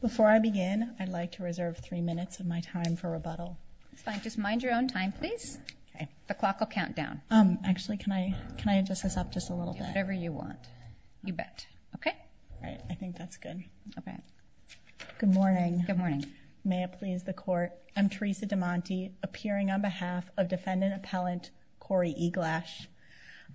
Before I begin, I'd like to reserve three minutes of my time for rebuttal. It's fine. Just mind your own time, please. The clock will count down. Actually, can I adjust this up just a little bit? Do whatever you want. You bet. Okay? All right. I think that's good. Okay. Good morning. Good morning. May it please the Court, I'm Teresa DeMonte, appearing on behalf of defendant appellant Cory Eglash.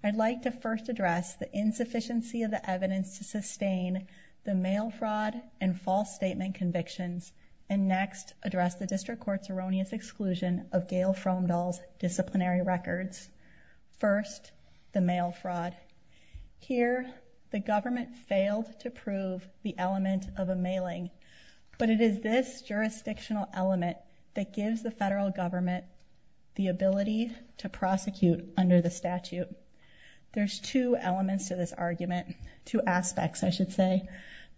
I'd like to first address the insufficiency of the evidence to sustain the mail fraud and false statement convictions, and next address the District Court's erroneous exclusion of Gail Frumdall's disciplinary records. First, the mail fraud. Here, the government failed to prove the element of a mailing, but it is this jurisdictional element that gives the federal government the ability to prosecute under the statute. There's two elements to this argument, two aspects, I should say.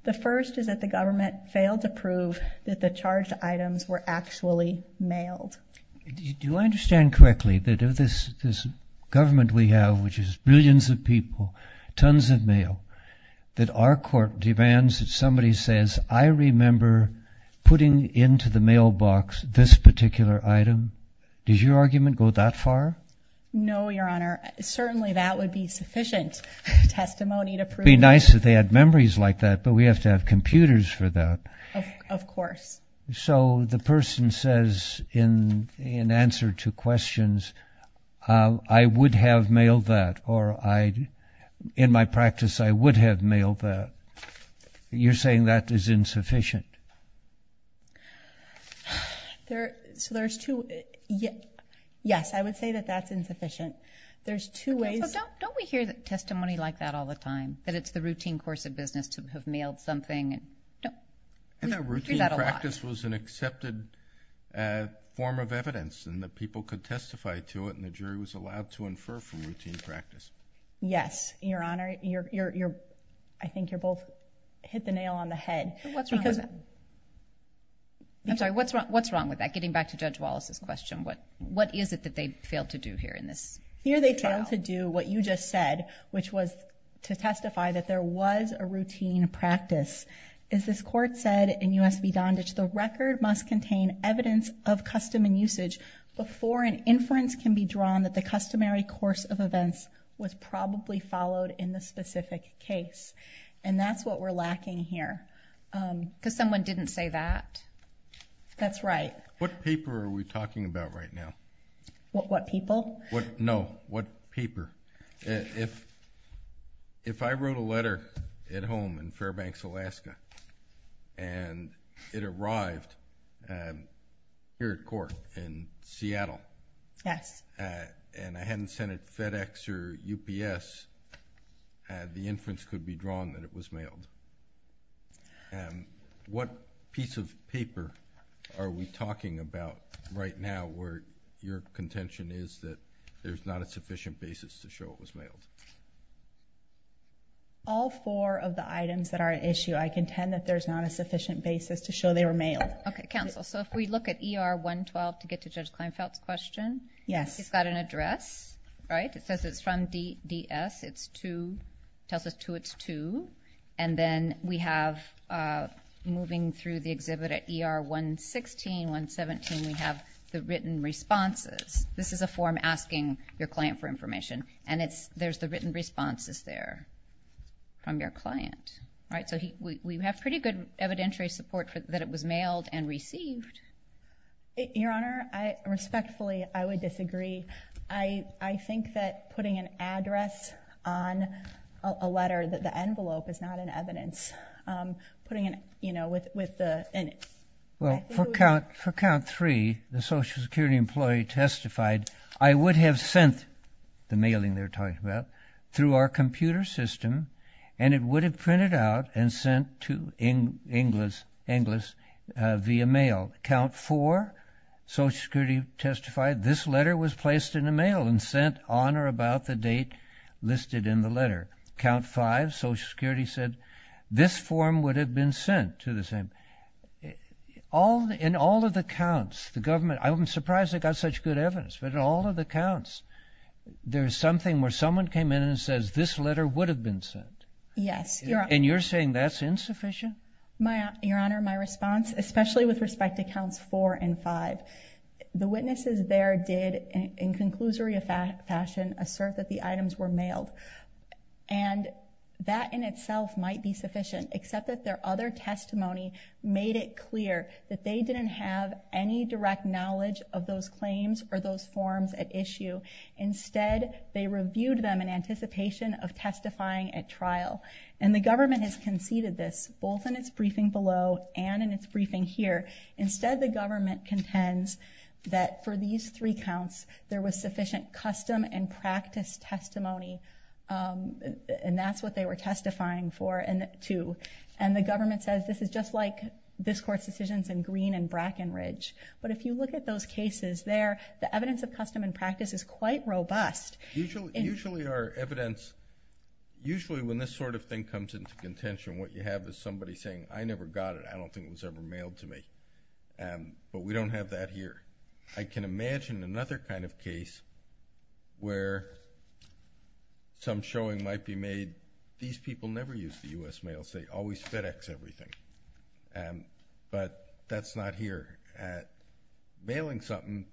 The first is that the government failed to prove that the charged items were actually mailed. Do I understand correctly that of this government we have, which is billions of people, tons of mail, that our court demands that somebody says, I remember putting into the mailbox this particular item? Does your argument go that far? No, Your Honor. Certainly that would be sufficient testimony to prove that. It would be nice if they had memories like that, but we have to have computers for that. Of course. So the person says in answer to questions, I would have mailed that, or in my practice, I would have mailed that. You're saying that is insufficient. So there's two. Yes, I would say that that's insufficient. There's two ways. Don't we hear testimony like that all the time, that it's the routine course of business to have mailed something? No. We hear that a lot. If a routine practice was an accepted form of evidence and the people could testify to it and the jury was allowed to infer from routine practice. Yes, Your Honor. I think you both hit the nail on the head. What's wrong with that? I'm sorry, what's wrong with that? Getting back to Judge Wallace's question, what is it that they failed to do here in this trial? They failed to do what you just said, which was to testify that there was a routine practice. As this court said in U.S. v. Donditch, the record must contain evidence of custom and usage before an inference can be drawn that the customary course of events was probably followed in the specific case. And that's what we're lacking here. Because someone didn't say that. That's right. What paper are we talking about right now? What people? No. What paper? If I wrote a letter at home in Fairbanks, Alaska, and it arrived here at court in Seattle, and I hadn't sent it to FedEx or UPS, the inference could be drawn that it was mailed. What piece of paper are we talking about right now where your contention is that there's not a sufficient basis to show it was mailed? All four of the items that are at issue, I contend that there's not a sufficient basis to show they were mailed. Okay, counsel, so if we look at ER 112 to get to Judge Kleinfeld's question, he's got an address, right? It's 2. It tells us 2. It's 2. And then we have, moving through the exhibit at ER 116, 117, we have the written responses. This is a form asking your client for information, and there's the written responses there from your client, right? So we have pretty good evidentiary support that it was mailed and received. Your Honor, respectfully, I would disagree. I think that putting an address on a letter, the envelope, is not an evidence. Well, for count 3, the Social Security employee testified, I would have sent the mailing they're talking about through our computer system, and it would have printed out and sent to Inglis via mail. Count 4, Social Security testified this letter was placed in the mail and sent on or about the date listed in the letter. Count 5, Social Security said this form would have been sent to the same. In all of the counts, the government, I'm surprised they got such good evidence, but in all of the counts, there's something where someone came in and says this letter would have been sent. Yes. And you're saying that's insufficient? Your Honor, my response, especially with respect to counts 4 and 5, the witnesses there did, in conclusory fashion, assert that the items were mailed, and that in itself might be sufficient, except that their other testimony made it clear that they didn't have any direct knowledge of those claims or those forms at issue. Instead, they reviewed them in anticipation of testifying at trial, and the government has conceded this, both in its briefing below and in its briefing here. Instead, the government contends that for these three counts, there was sufficient custom and practice testimony, and that's what they were testifying to. And the government says this is just like this Court's decisions in Green and Brackenridge. But if you look at those cases there, the evidence of custom and practice is quite robust. Usually our evidence, usually when this sort of thing comes into contention, what you have is somebody saying, I never got it. I don't think it was ever mailed to me. But we don't have that here. I can imagine another kind of case where some showing might be made, these people never use the U.S. mails. They always FedEx everything. But that's not here. Mailing something,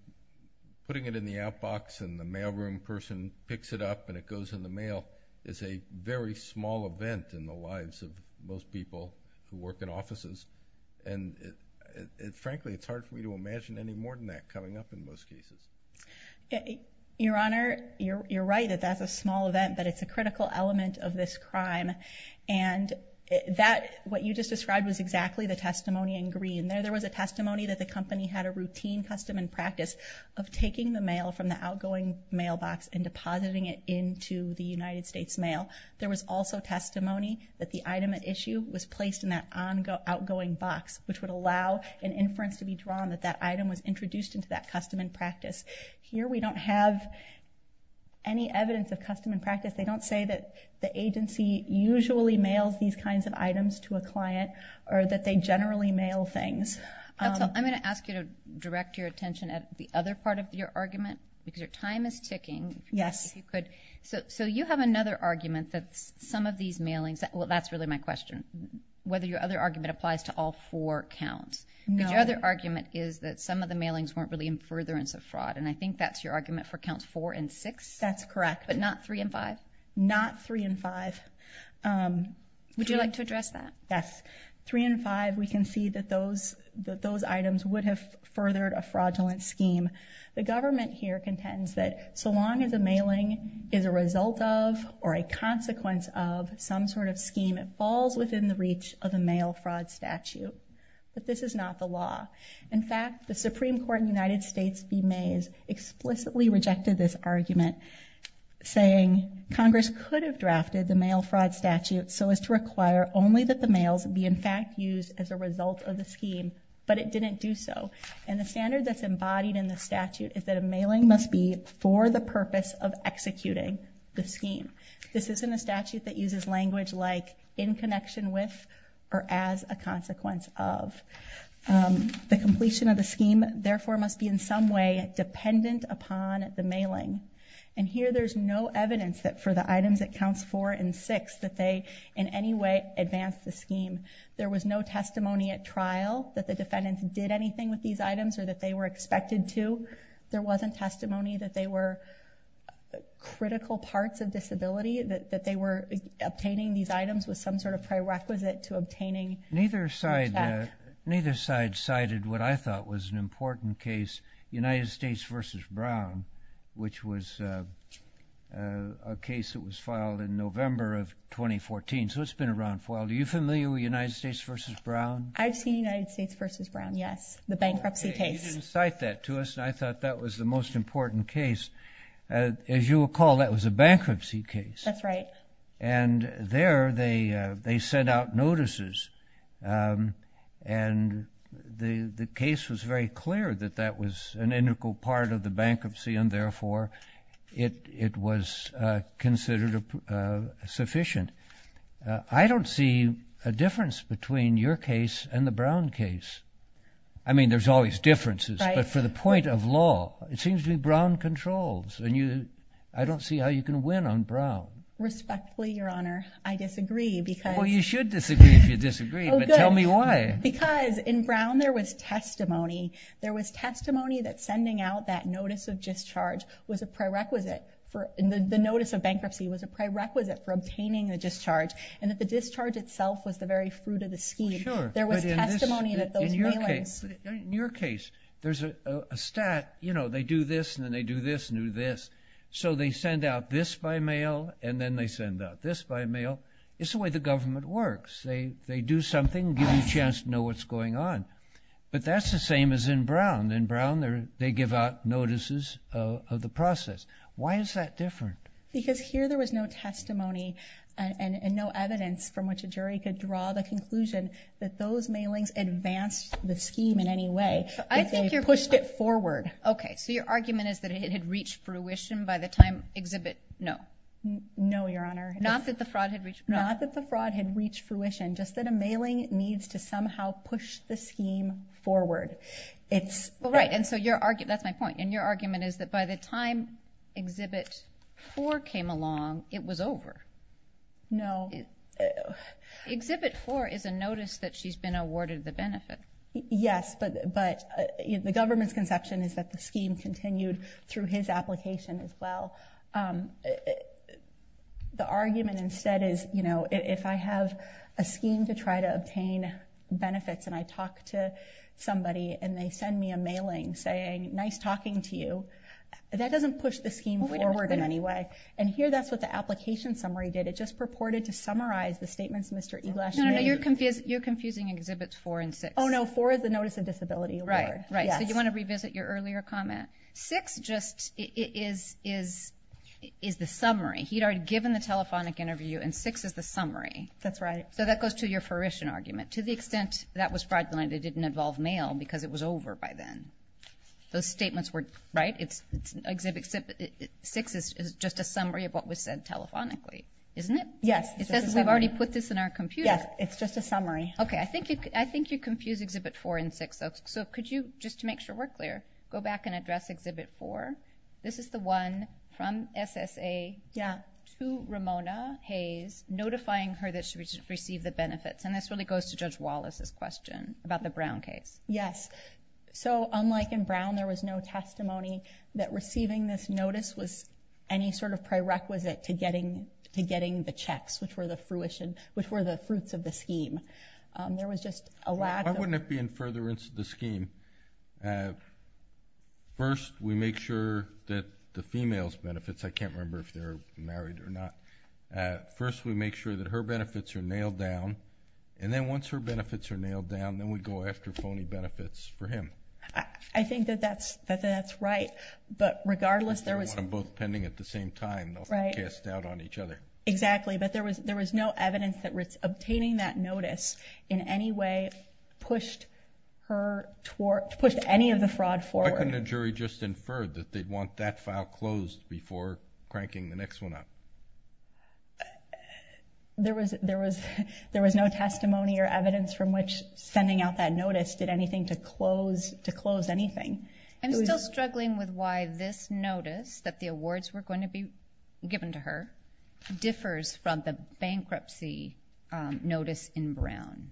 putting it in the outbox, and the mailroom person picks it up and it goes in the mail, is a very small event in the lives of most people who work in offices. And frankly, it's hard for me to imagine any more than that coming up in most cases. Your Honor, you're right that that's a small event, but it's a critical element of this crime. And what you just described was exactly the testimony in Green. There was a testimony that the company had a routine custom and practice of taking the mail from the outgoing mailbox and depositing it into the United States mail. There was also testimony that the item at issue was placed in that outgoing box, which would allow an inference to be drawn that that item was introduced into that custom and practice. Here we don't have any evidence of custom and practice. They don't say that the agency usually mails these kinds of items to a client or that they generally mail things. I'm going to ask you to direct your attention at the other part of your argument because your time is ticking. Yes. So you have another argument that some of these mailings, well, that's really my question, whether your other argument applies to all four counts. No. Because your other argument is that some of the mailings weren't really in furtherance of fraud, and I think that's your argument for counts four and six? That's correct. But not three and five? Not three and five. Would you like to address that? Yes. Three and five, we can see that those items would have furthered a fraudulent scheme. The government here contends that so long as a mailing is a result of or a consequence of some sort of scheme, it falls within the reach of a mail fraud statute. But this is not the law. In fact, the Supreme Court in the United States v. Mays explicitly rejected this argument, saying Congress could have drafted the mail fraud statute so as to require only that the mails be in fact used as a result of the scheme, but it didn't do so. And the standard that's embodied in the statute is that a mailing must be for the purpose of executing the scheme. This isn't a statute that uses language like in connection with or as a consequence of. The completion of the scheme, therefore, must be in some way dependent upon the mailing. And here there's no evidence that for the items at counts four and six that they in any way advanced the scheme. There was no testimony at trial that the defendants did anything with these items or that they were expected to. There wasn't testimony that they were critical parts of disability, that they were obtaining these items with some sort of prerequisite to obtaining the check. Neither side cited what I thought was an important case, United States v. Brown, which was a case that was filed in November of 2014. So it's been around for a while. Are you familiar with United States v. Brown? I've seen United States v. Brown, yes, the bankruptcy case. You didn't cite that to us, and I thought that was the most important case. As you recall, that was a bankruptcy case. That's right. And there they sent out notices, and the case was very clear that that was an integral part of the bankruptcy, and therefore it was considered sufficient. I don't see a difference between your case and the Brown case. I mean, there's always differences, but for the point of law, it seems to be Brown controls, and I don't see how you can win on Brown. Respectfully, Your Honor, I disagree. Well, you should disagree if you disagree, but tell me why. Because in Brown there was testimony. There was testimony that sending out that notice of discharge was a prerequisite for the notice of bankruptcy, was a prerequisite for obtaining the discharge, and that the discharge itself was the very fruit of the scheme. Sure. There was testimony that those mailings. In your case, there's a stat, you know, they do this, and then they do this, and do this. So they send out this by mail, and then they send out this by mail. It's the way the government works. They do something and give you a chance to know what's going on. But that's the same as in Brown. In Brown they give out notices of the process. Why is that different? Because here there was no testimony and no evidence from which a jury could draw the conclusion that those mailings advanced the scheme in any way. I think you pushed it forward. Okay, so your argument is that it had reached fruition by the time Exhibit No. No, Your Honor. Not that the fraud had reached fruition. Not that the fraud had reached fruition, just that a mailing needs to somehow push the scheme forward. Well, right. That's my point. And your argument is that by the time Exhibit 4 came along, it was over. No. Exhibit 4 is a notice that she's been awarded the benefit. Yes, but the government's conception is that the scheme continued through his application as well. The argument instead is, you know, if I have a scheme to try to obtain benefits and I talk to somebody and they send me a mailing saying, nice talking to you, that doesn't push the scheme forward in any way. And here that's what the application summary did. It just purported to summarize the statements Mr. Eglass made. No, no, no. You're confusing Exhibits 4 and 6. Oh, no. 4 is the notice of disability award. Right, right. So you want to revisit your earlier comment. 6 just is the summary. He'd already given the telephonic interview, and 6 is the summary. That's right. So that goes to your fruition argument. To the extent that was fraudulent, it didn't involve mail because it was over by then. Those statements were, right, Exhibit 6 is just a summary of what was said telephonically, isn't it? Yes, it's just a summary. It says we've already put this in our computer. Yes, it's just a summary. Okay, I think you confuse Exhibit 4 and 6, though. So could you, just to make sure we're clear, go back and address Exhibit 4? This is the one from SSA to Ramona Hayes, notifying her that she should receive the benefits. And this really goes to Judge Wallace's question about the Brown case. Yes. So unlike in Brown, there was no testimony that receiving this notice was any sort of prerequisite to getting the checks, which were the fruits of the scheme. There was just a lack of… Why wouldn't it be in furtherance of the scheme? First, we make sure that the female's benefits, I can't remember if they're married or not. First, we make sure that her benefits are nailed down. And then once her benefits are nailed down, then we go after phony benefits for him. I think that that's right. But regardless, there was… If they were both pending at the same time, they'll cast doubt on each other. Exactly, but there was no evidence that obtaining that notice in any way pushed any of the fraud forward. Why couldn't a jury just infer that they'd want that file closed before cranking the next one up? There was no testimony or evidence from which sending out that notice did anything to close anything. I'm still struggling with why this notice, that the awards were going to be given to her, differs from the bankruptcy notice in Brown.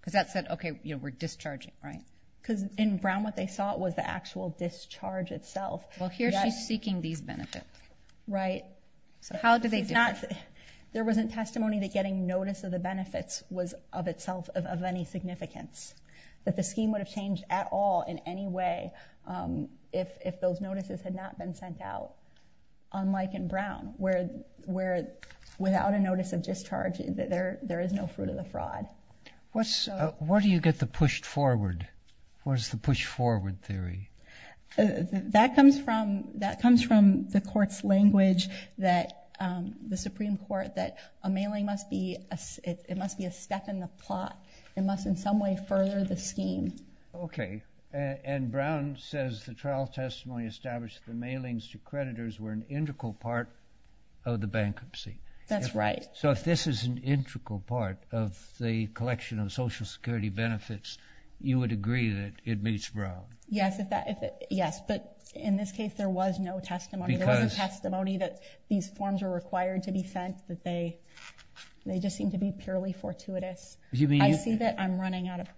Because that said, okay, we're discharging, right? Because in Brown, what they sought was the actual discharge itself. Well, here she's seeking these benefits. Right. So how do they differ? There wasn't testimony that getting notice of the benefits was of itself of any significance. That the scheme would have changed at all in any way if those notices had not been sent out. Unlike in Brown, where without a notice of discharge, there is no fruit of the fraud. Where do you get the pushed forward? Where's the push forward theory? That comes from the court's language, the Supreme Court, that a mailing must be a step in the plot. It must in some way further the scheme. Okay. And Brown says the trial testimony established that the mailings to creditors were an integral part of the bankruptcy. That's right. So if this is an integral part of the collection of Social Security benefits, you would agree that it meets Brown? Yes. But in this case, there was no testimony. There wasn't testimony that these forms were required to be sent, that they just seemed to be purely fortuitous. I see that I'm running out of time.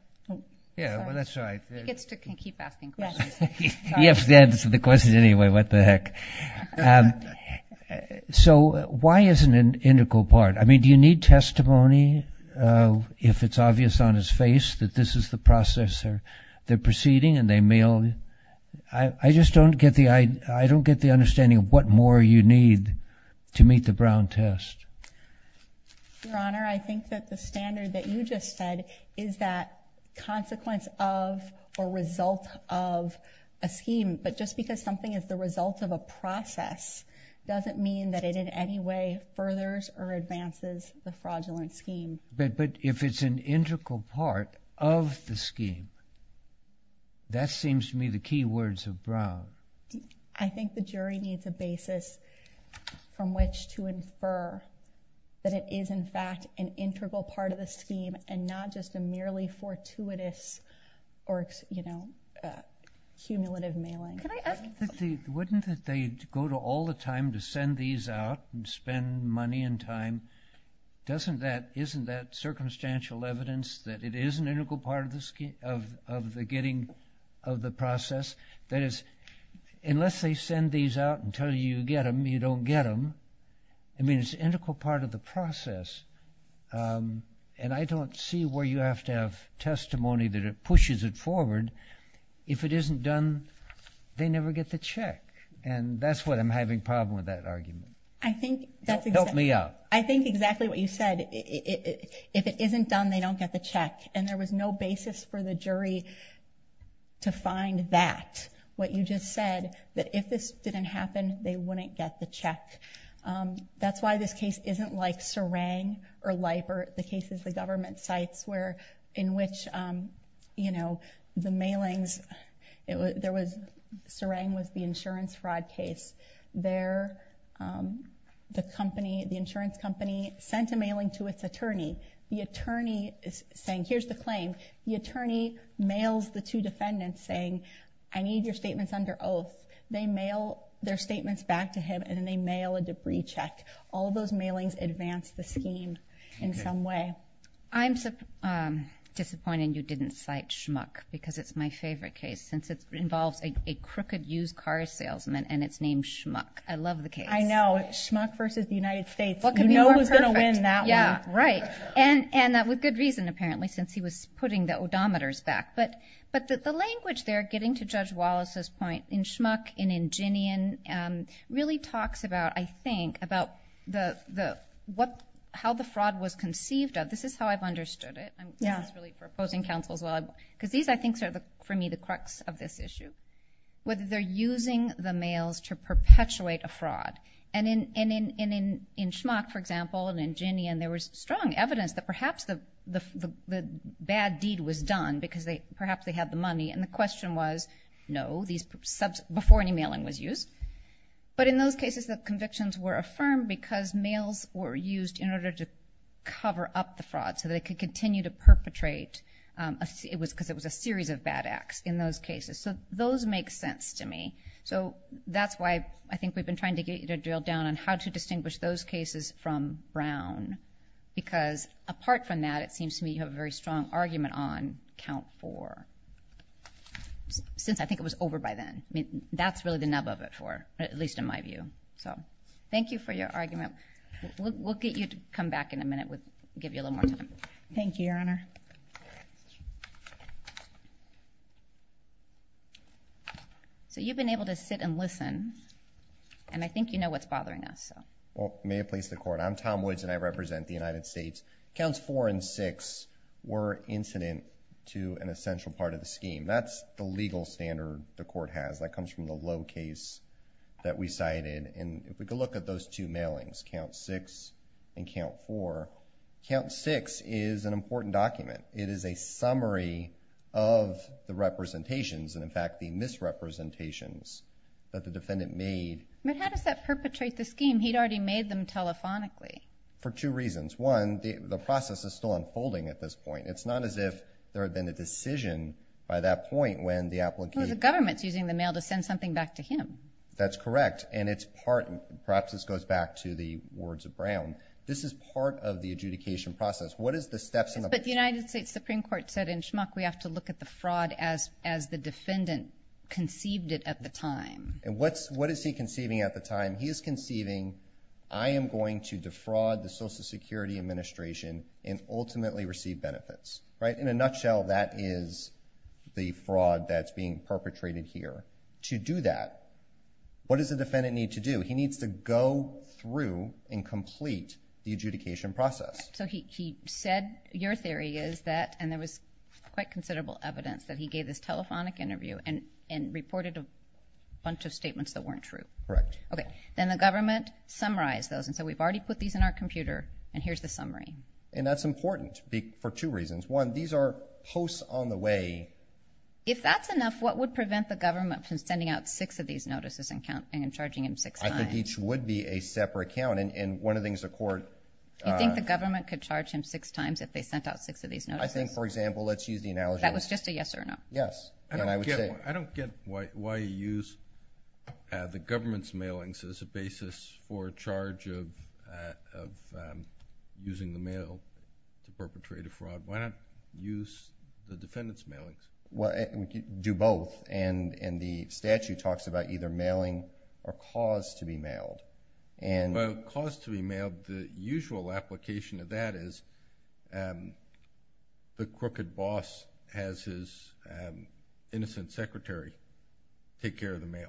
He gets to keep asking questions. He has to answer the questions anyway. What the heck. So why isn't it an integral part? I mean, do you need testimony if it's obvious on his face that this is the process they're proceeding and they mail? I just don't get the understanding of what more you need to meet the Brown test. Your Honor, I think that the standard that you just said is that consequence of or result of a scheme. But just because something is the result of a process doesn't mean that it in any way furthers or advances the fraudulent scheme. But if it's an integral part of the scheme, that seems to me the key words of Brown. I think the jury needs a basis from which to infer that it is, in fact, an integral part of the scheme and not just a merely fortuitous or, you know, cumulative mailing. Wouldn't they go to all the time to send these out and spend money and time? Isn't that circumstantial evidence that it is an integral part of the process? That is, unless they send these out and tell you you get them, you don't get them. I mean, it's an integral part of the process. And I don't see where you have to have testimony that pushes it forward. If it isn't done, they never get the check. And that's what I'm having a problem with that argument. Help me out. I think exactly what you said. If it isn't done, they don't get the check. And there was no basis for the jury to find that, what you just said, that if this didn't happen, they wouldn't get the check. That's why this case isn't like Serang or Leiper, the cases the government cites where in which, you know, the mailings, there was, Serang was the insurance fraud case. There, the company, the insurance company sent a mailing to its attorney. The attorney is saying, here's the claim. The attorney mails the two defendants saying, I need your statements under oath. They mail their statements back to him and then they mail a debris check. All those mailings advance the scheme in some way. I'm disappointed you didn't cite Schmuck because it's my favorite case since it involves a crooked used car salesman and it's named Schmuck. I love the case. I know. Schmuck versus the United States. You know who's going to win that one. Yeah, right. And with good reason, apparently, since he was putting the odometers back. But the language there, getting to Judge Wallace's point, in Schmuck and in Ginian really talks about, I think, about how the fraud was conceived of. This is how I've understood it. I'm really proposing counsel as well because these, I think, are for me the crux of this issue, whether they're using the mails to perpetuate a fraud. And in Schmuck, for example, and in Ginian, there was strong evidence that perhaps the bad deed was done because perhaps they had the money. And the question was, no, before any mailing was used. But in those cases, the convictions were affirmed because mails were used in order to cover up the fraud so they could continue to perpetrate because it was a series of bad acts in those cases. So those make sense to me. So that's why I think we've been trying to get you to drill down on how to distinguish those cases from Brown. Because apart from that, it seems to me you have a very strong argument on count four, since I think it was over by then. I mean, that's really the nub of it for her, at least in my view. So thank you for your argument. We'll get you to come back in a minute. We'll give you a little more time. Thank you, Your Honor. So you've been able to sit and listen. And I think you know what's bothering us. Well, may it please the Court. I'm Tom Woods, and I represent the United States. Counts four and six were incident to an essential part of the scheme. That's the legal standard the Court has. That comes from the low case that we cited. And if we could look at those two mailings, count six and count four. Count six is an important document. It is a summary of the representations and, in fact, the misrepresentations that the defendant made. But how does that perpetrate the scheme? He'd already made them telephonically. For two reasons. One, the process is still unfolding at this point. It's not as if there had been a decision by that point when the applicant – Well, the government's using the mail to send something back to him. That's correct, and perhaps this goes back to the words of Brown. This is part of the adjudication process. What is the steps in the process? But the United States Supreme Court said in Schmuck we have to look at the fraud as the defendant conceived it at the time. And what is he conceiving at the time? He is conceiving, I am going to defraud the Social Security Administration and ultimately receive benefits. In a nutshell, that is the fraud that's being perpetrated here. To do that, what does the defendant need to do? He needs to go through and complete the adjudication process. So he said your theory is that – and there was quite considerable evidence that he gave this telephonic interview and reported a bunch of statements that weren't true. Correct. Then the government summarized those and said we've already put these in our computer and here's the summary. And that's important for two reasons. One, these are posts on the way. If that's enough, what would prevent the government from sending out six of these notices and charging him six times? I think each would be a separate count. And one of the things the court – You think the government could charge him six times if they sent out six of these notices? I think, for example, let's use the analogy – That was just a yes or no. Yes. And I would say – I don't get why you use the government's mailings as a basis for a charge of using the mail to perpetrate a fraud. Why not use the defendant's mailings? Do both. And the statute talks about either mailing or cause to be mailed. Well, cause to be mailed, the usual application of that is the crooked boss has his innocent secretary take care of the mail.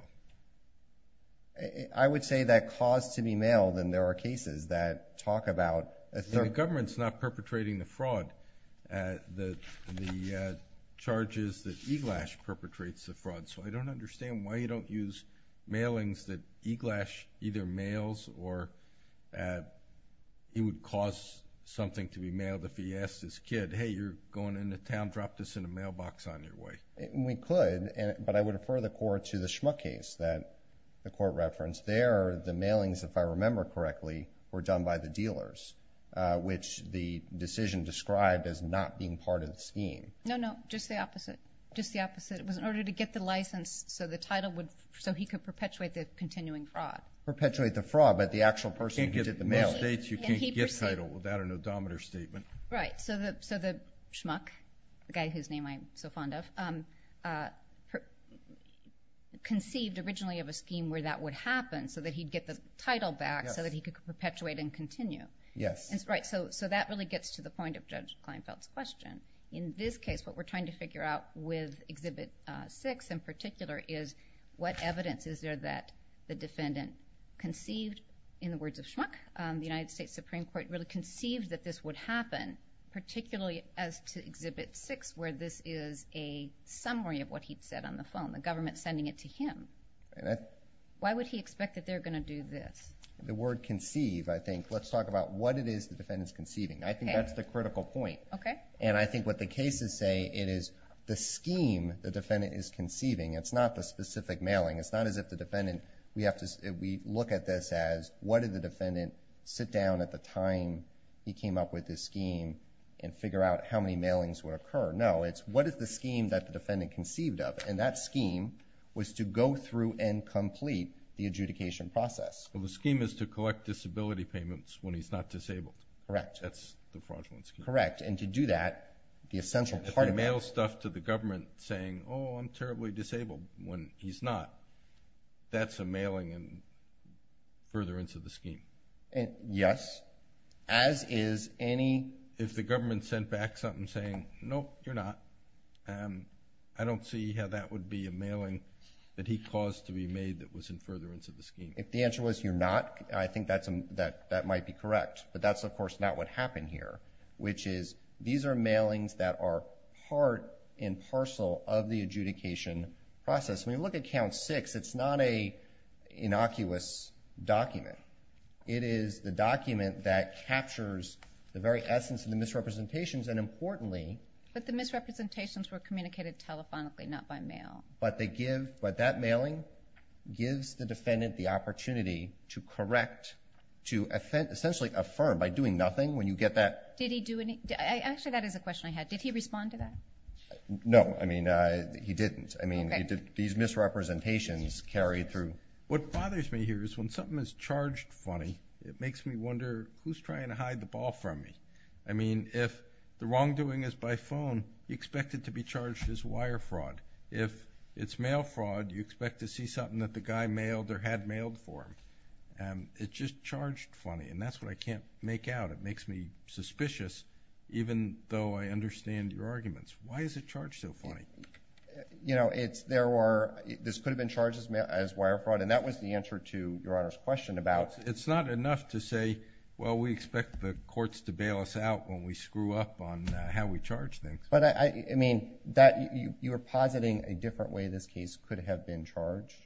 I would say that cause to be mailed, and there are cases that talk about – The government's not perpetrating the fraud. The charge is that Eglash perpetrates the fraud. So I don't understand why you don't use mailings that Eglash either mails or he would cause something to be mailed if he asked his kid, hey, you're going into town, drop this in a mailbox on your way. We could, but I would refer the court to the Schmuck case that the court referenced. There, the mailings, if I remember correctly, were done by the dealers, which the decision described as not being part of the scheme. No, no. Just the opposite. Just the opposite. It was in order to get the license so the title would – so he could perpetuate the continuing fraud. Perpetuate the fraud, but the actual person who did the mail. In most states, you can't get title without an odometer statement. Right. So the Schmuck, the guy whose name I'm so fond of, conceived originally of a scheme where that would happen so that he'd get the title back so that he could perpetuate and continue. Yes. Right. So that really gets to the point of Judge Kleinfeld's question. In this case, what we're trying to figure out with Exhibit 6 in particular is what evidence is there that the defendant conceived, in the words of Schmuck, the United States Supreme Court really conceived that this would happen, particularly as to Exhibit 6 where this is a summary of what he'd said on the phone, the government sending it to him. Why would he expect that they're going to do this? The word conceive, I think, let's talk about what it is the defendant's conceiving. I think that's the critical point. Okay. And I think what the cases say, it is the scheme the defendant is conceiving. It's not the specific mailing. It's not as if the defendant, we look at this as what did the defendant sit down at the time he came up with this scheme and figure out how many mailings would occur. No, it's what is the scheme that the defendant conceived of? And that scheme was to go through and complete the adjudication process. Well, the scheme is to collect disability payments when he's not disabled. Correct. That's the fraudulent scheme. Correct. And to do that, the essential part of that— Oh, I'm terribly disabled when he's not. That's a mailing further into the scheme. Yes. As is any— If the government sent back something saying, nope, you're not, I don't see how that would be a mailing that he caused to be made that was further into the scheme. If the answer was you're not, I think that might be correct. But that's, of course, not what happened here, which is these are mailings that are part and parcel of the adjudication process. When you look at Count 6, it's not an innocuous document. It is the document that captures the very essence of the misrepresentations and, importantly— But the misrepresentations were communicated telephonically, not by mail. But that mailing gives the defendant the opportunity to correct, to essentially affirm by doing nothing when you get that— Actually, that is a question I had. Did he respond to that? No. He didn't. These misrepresentations carried through. What bothers me here is when something is charged funny, it makes me wonder who's trying to hide the ball from me. If the wrongdoing is by phone, you expect it to be charged as wire fraud. If it's mail fraud, you expect to see something that the guy mailed or had mailed for him. It's just charged funny, and that's what I can't make out. It makes me suspicious, even though I understand your arguments. Why is it charged so funny? This could have been charged as wire fraud, and that was the answer to Your Honor's question about— It's not enough to say, well, we expect the courts to bail us out when we screw up on how we charge things. You are positing a different way this case could have been charged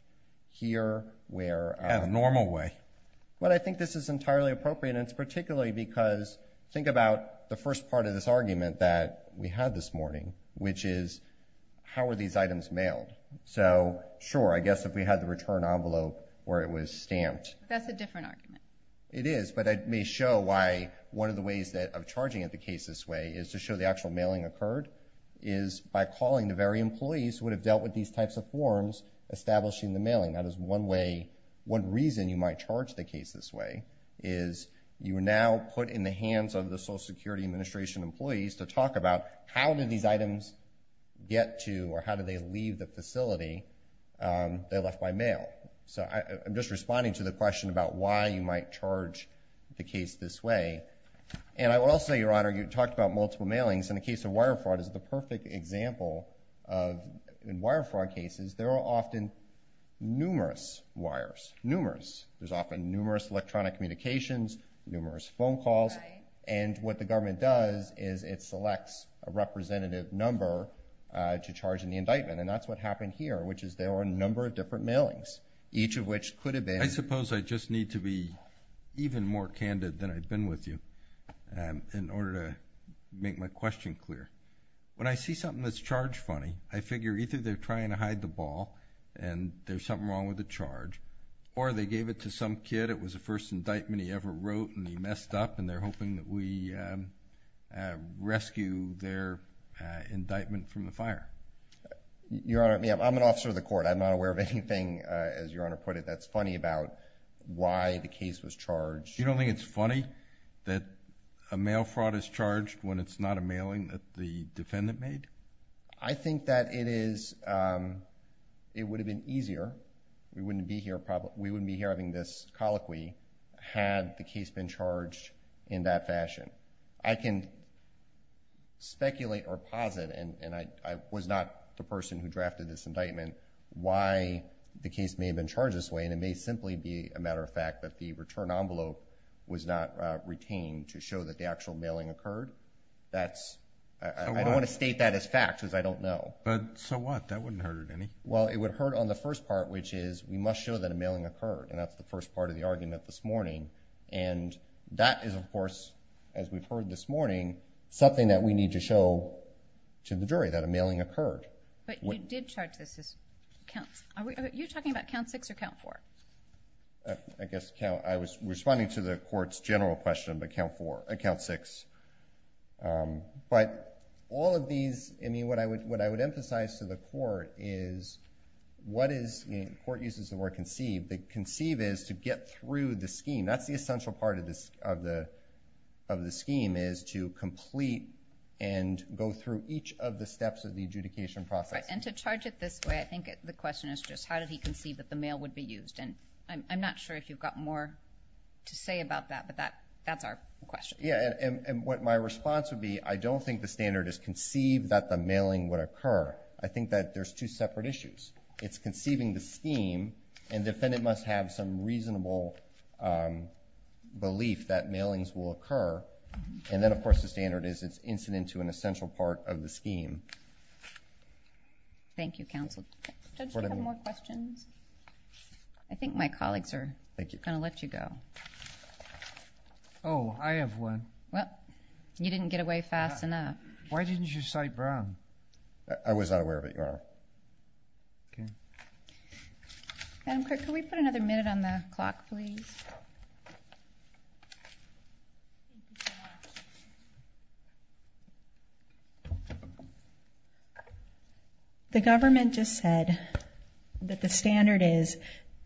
here where— In a normal way. I think this is entirely appropriate, and it's particularly because think about the first part of this argument that we had this morning, which is how were these items mailed? Sure, I guess if we had the return envelope where it was stamped. That's a different argument. It is, but it may show why one of the ways of charging the case this way is to show the actual mailing occurred, is by calling the very employees who would have dealt with these types of forms, establishing the mailing. That is one reason you might charge the case this way, is you now put in the hands of the Social Security Administration employees to talk about how did these items get to or how did they leave the facility they left by mail. I'm just responding to the question about why you might charge the case this way. I will say, Your Honor, you talked about multiple mailings, and the case of wire fraud is the perfect example. In wire fraud cases, there are often numerous wires, numerous. There's often numerous electronic communications, numerous phone calls, and what the government does is it selects a representative number to charge in the indictment. That's what happened here, which is there were a number of different mailings, each of which could have been— I suppose I just need to be even more candid than I've been with you in order to make my question clear. When I see something that's charged funny, I figure either they're trying to hide the ball and there's something wrong with the charge, or they gave it to some kid, it was the first indictment he ever wrote, and he messed up, and they're hoping that we rescue their indictment from the fire. Your Honor, I'm an officer of the court. I'm not aware of anything, as Your Honor put it, that's funny about why the case was charged. You don't think it's funny that a mail fraud is charged when it's not a mailing that the defendant made? I think that it would have been easier. We wouldn't be here having this colloquy had the case been charged in that fashion. I can speculate or posit, and I was not the person who drafted this indictment, why the case may have been charged this way, and it may simply be a matter of fact that the return envelope was not retained to show that the actual mailing occurred. I don't want to state that as fact because I don't know. So what? That wouldn't hurt it any. Well, it would hurt on the first part, which is we must show that a mailing occurred, and that's the first part of the argument this morning. And that is, of course, as we've heard this morning, something that we need to show to the jury that a mailing occurred. But you did charge this as counts. Are you talking about count six or count four? I guess I was responding to the court's general question about count six. But all of these, I mean, what I would emphasize to the court is what is, the court uses the word conceive, but conceive is to get through the scheme. That's the essential part of the scheme is to complete and go through each of the steps of the adjudication process. And to charge it this way, I think the question is just how did he conceive that the mail would be used? And I'm not sure if you've got more to say about that, but that's our question. Yeah, and what my response would be, I don't think the standard is conceive that the mailing would occur. I think that there's two separate issues. It's conceiving the scheme, and the defendant must have some reasonable belief that mailings will occur. And then, of course, the standard is it's incident to an essential part of the scheme. Thank you, counsel. Judge, do you have more questions? I think my colleagues are going to let you go. Oh, I have one. Well, you didn't get away fast enough. Why didn't you cite Brown? I was not aware of it, Your Honor. Madam Clerk, can we put another minute on the clock, please? The government just said that the standard is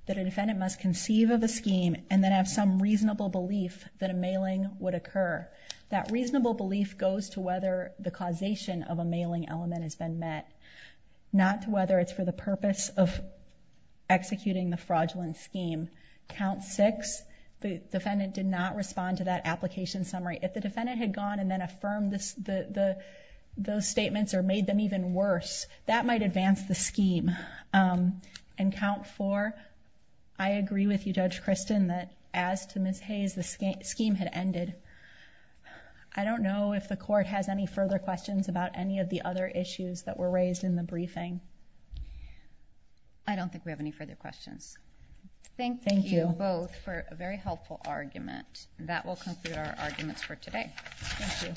that a defendant must conceive of a scheme and then have some reasonable belief that a mailing would occur. That reasonable belief goes to whether the causation of a mailing element has been met, not to whether it's for the purpose of executing the fraudulent scheme. Count six, the defendant did not respond to that application summary. If the defendant had gone and then affirmed those statements or made them even worse, that might advance the scheme. And count four, I agree with you, Judge Kristen, that as to Ms. Hayes, the scheme had ended. I don't know if the court has any further questions about any of the other issues that were raised in the briefing. I don't think we have any further questions. Thank you both for a very helpful argument. That will conclude our arguments for today. Thank you.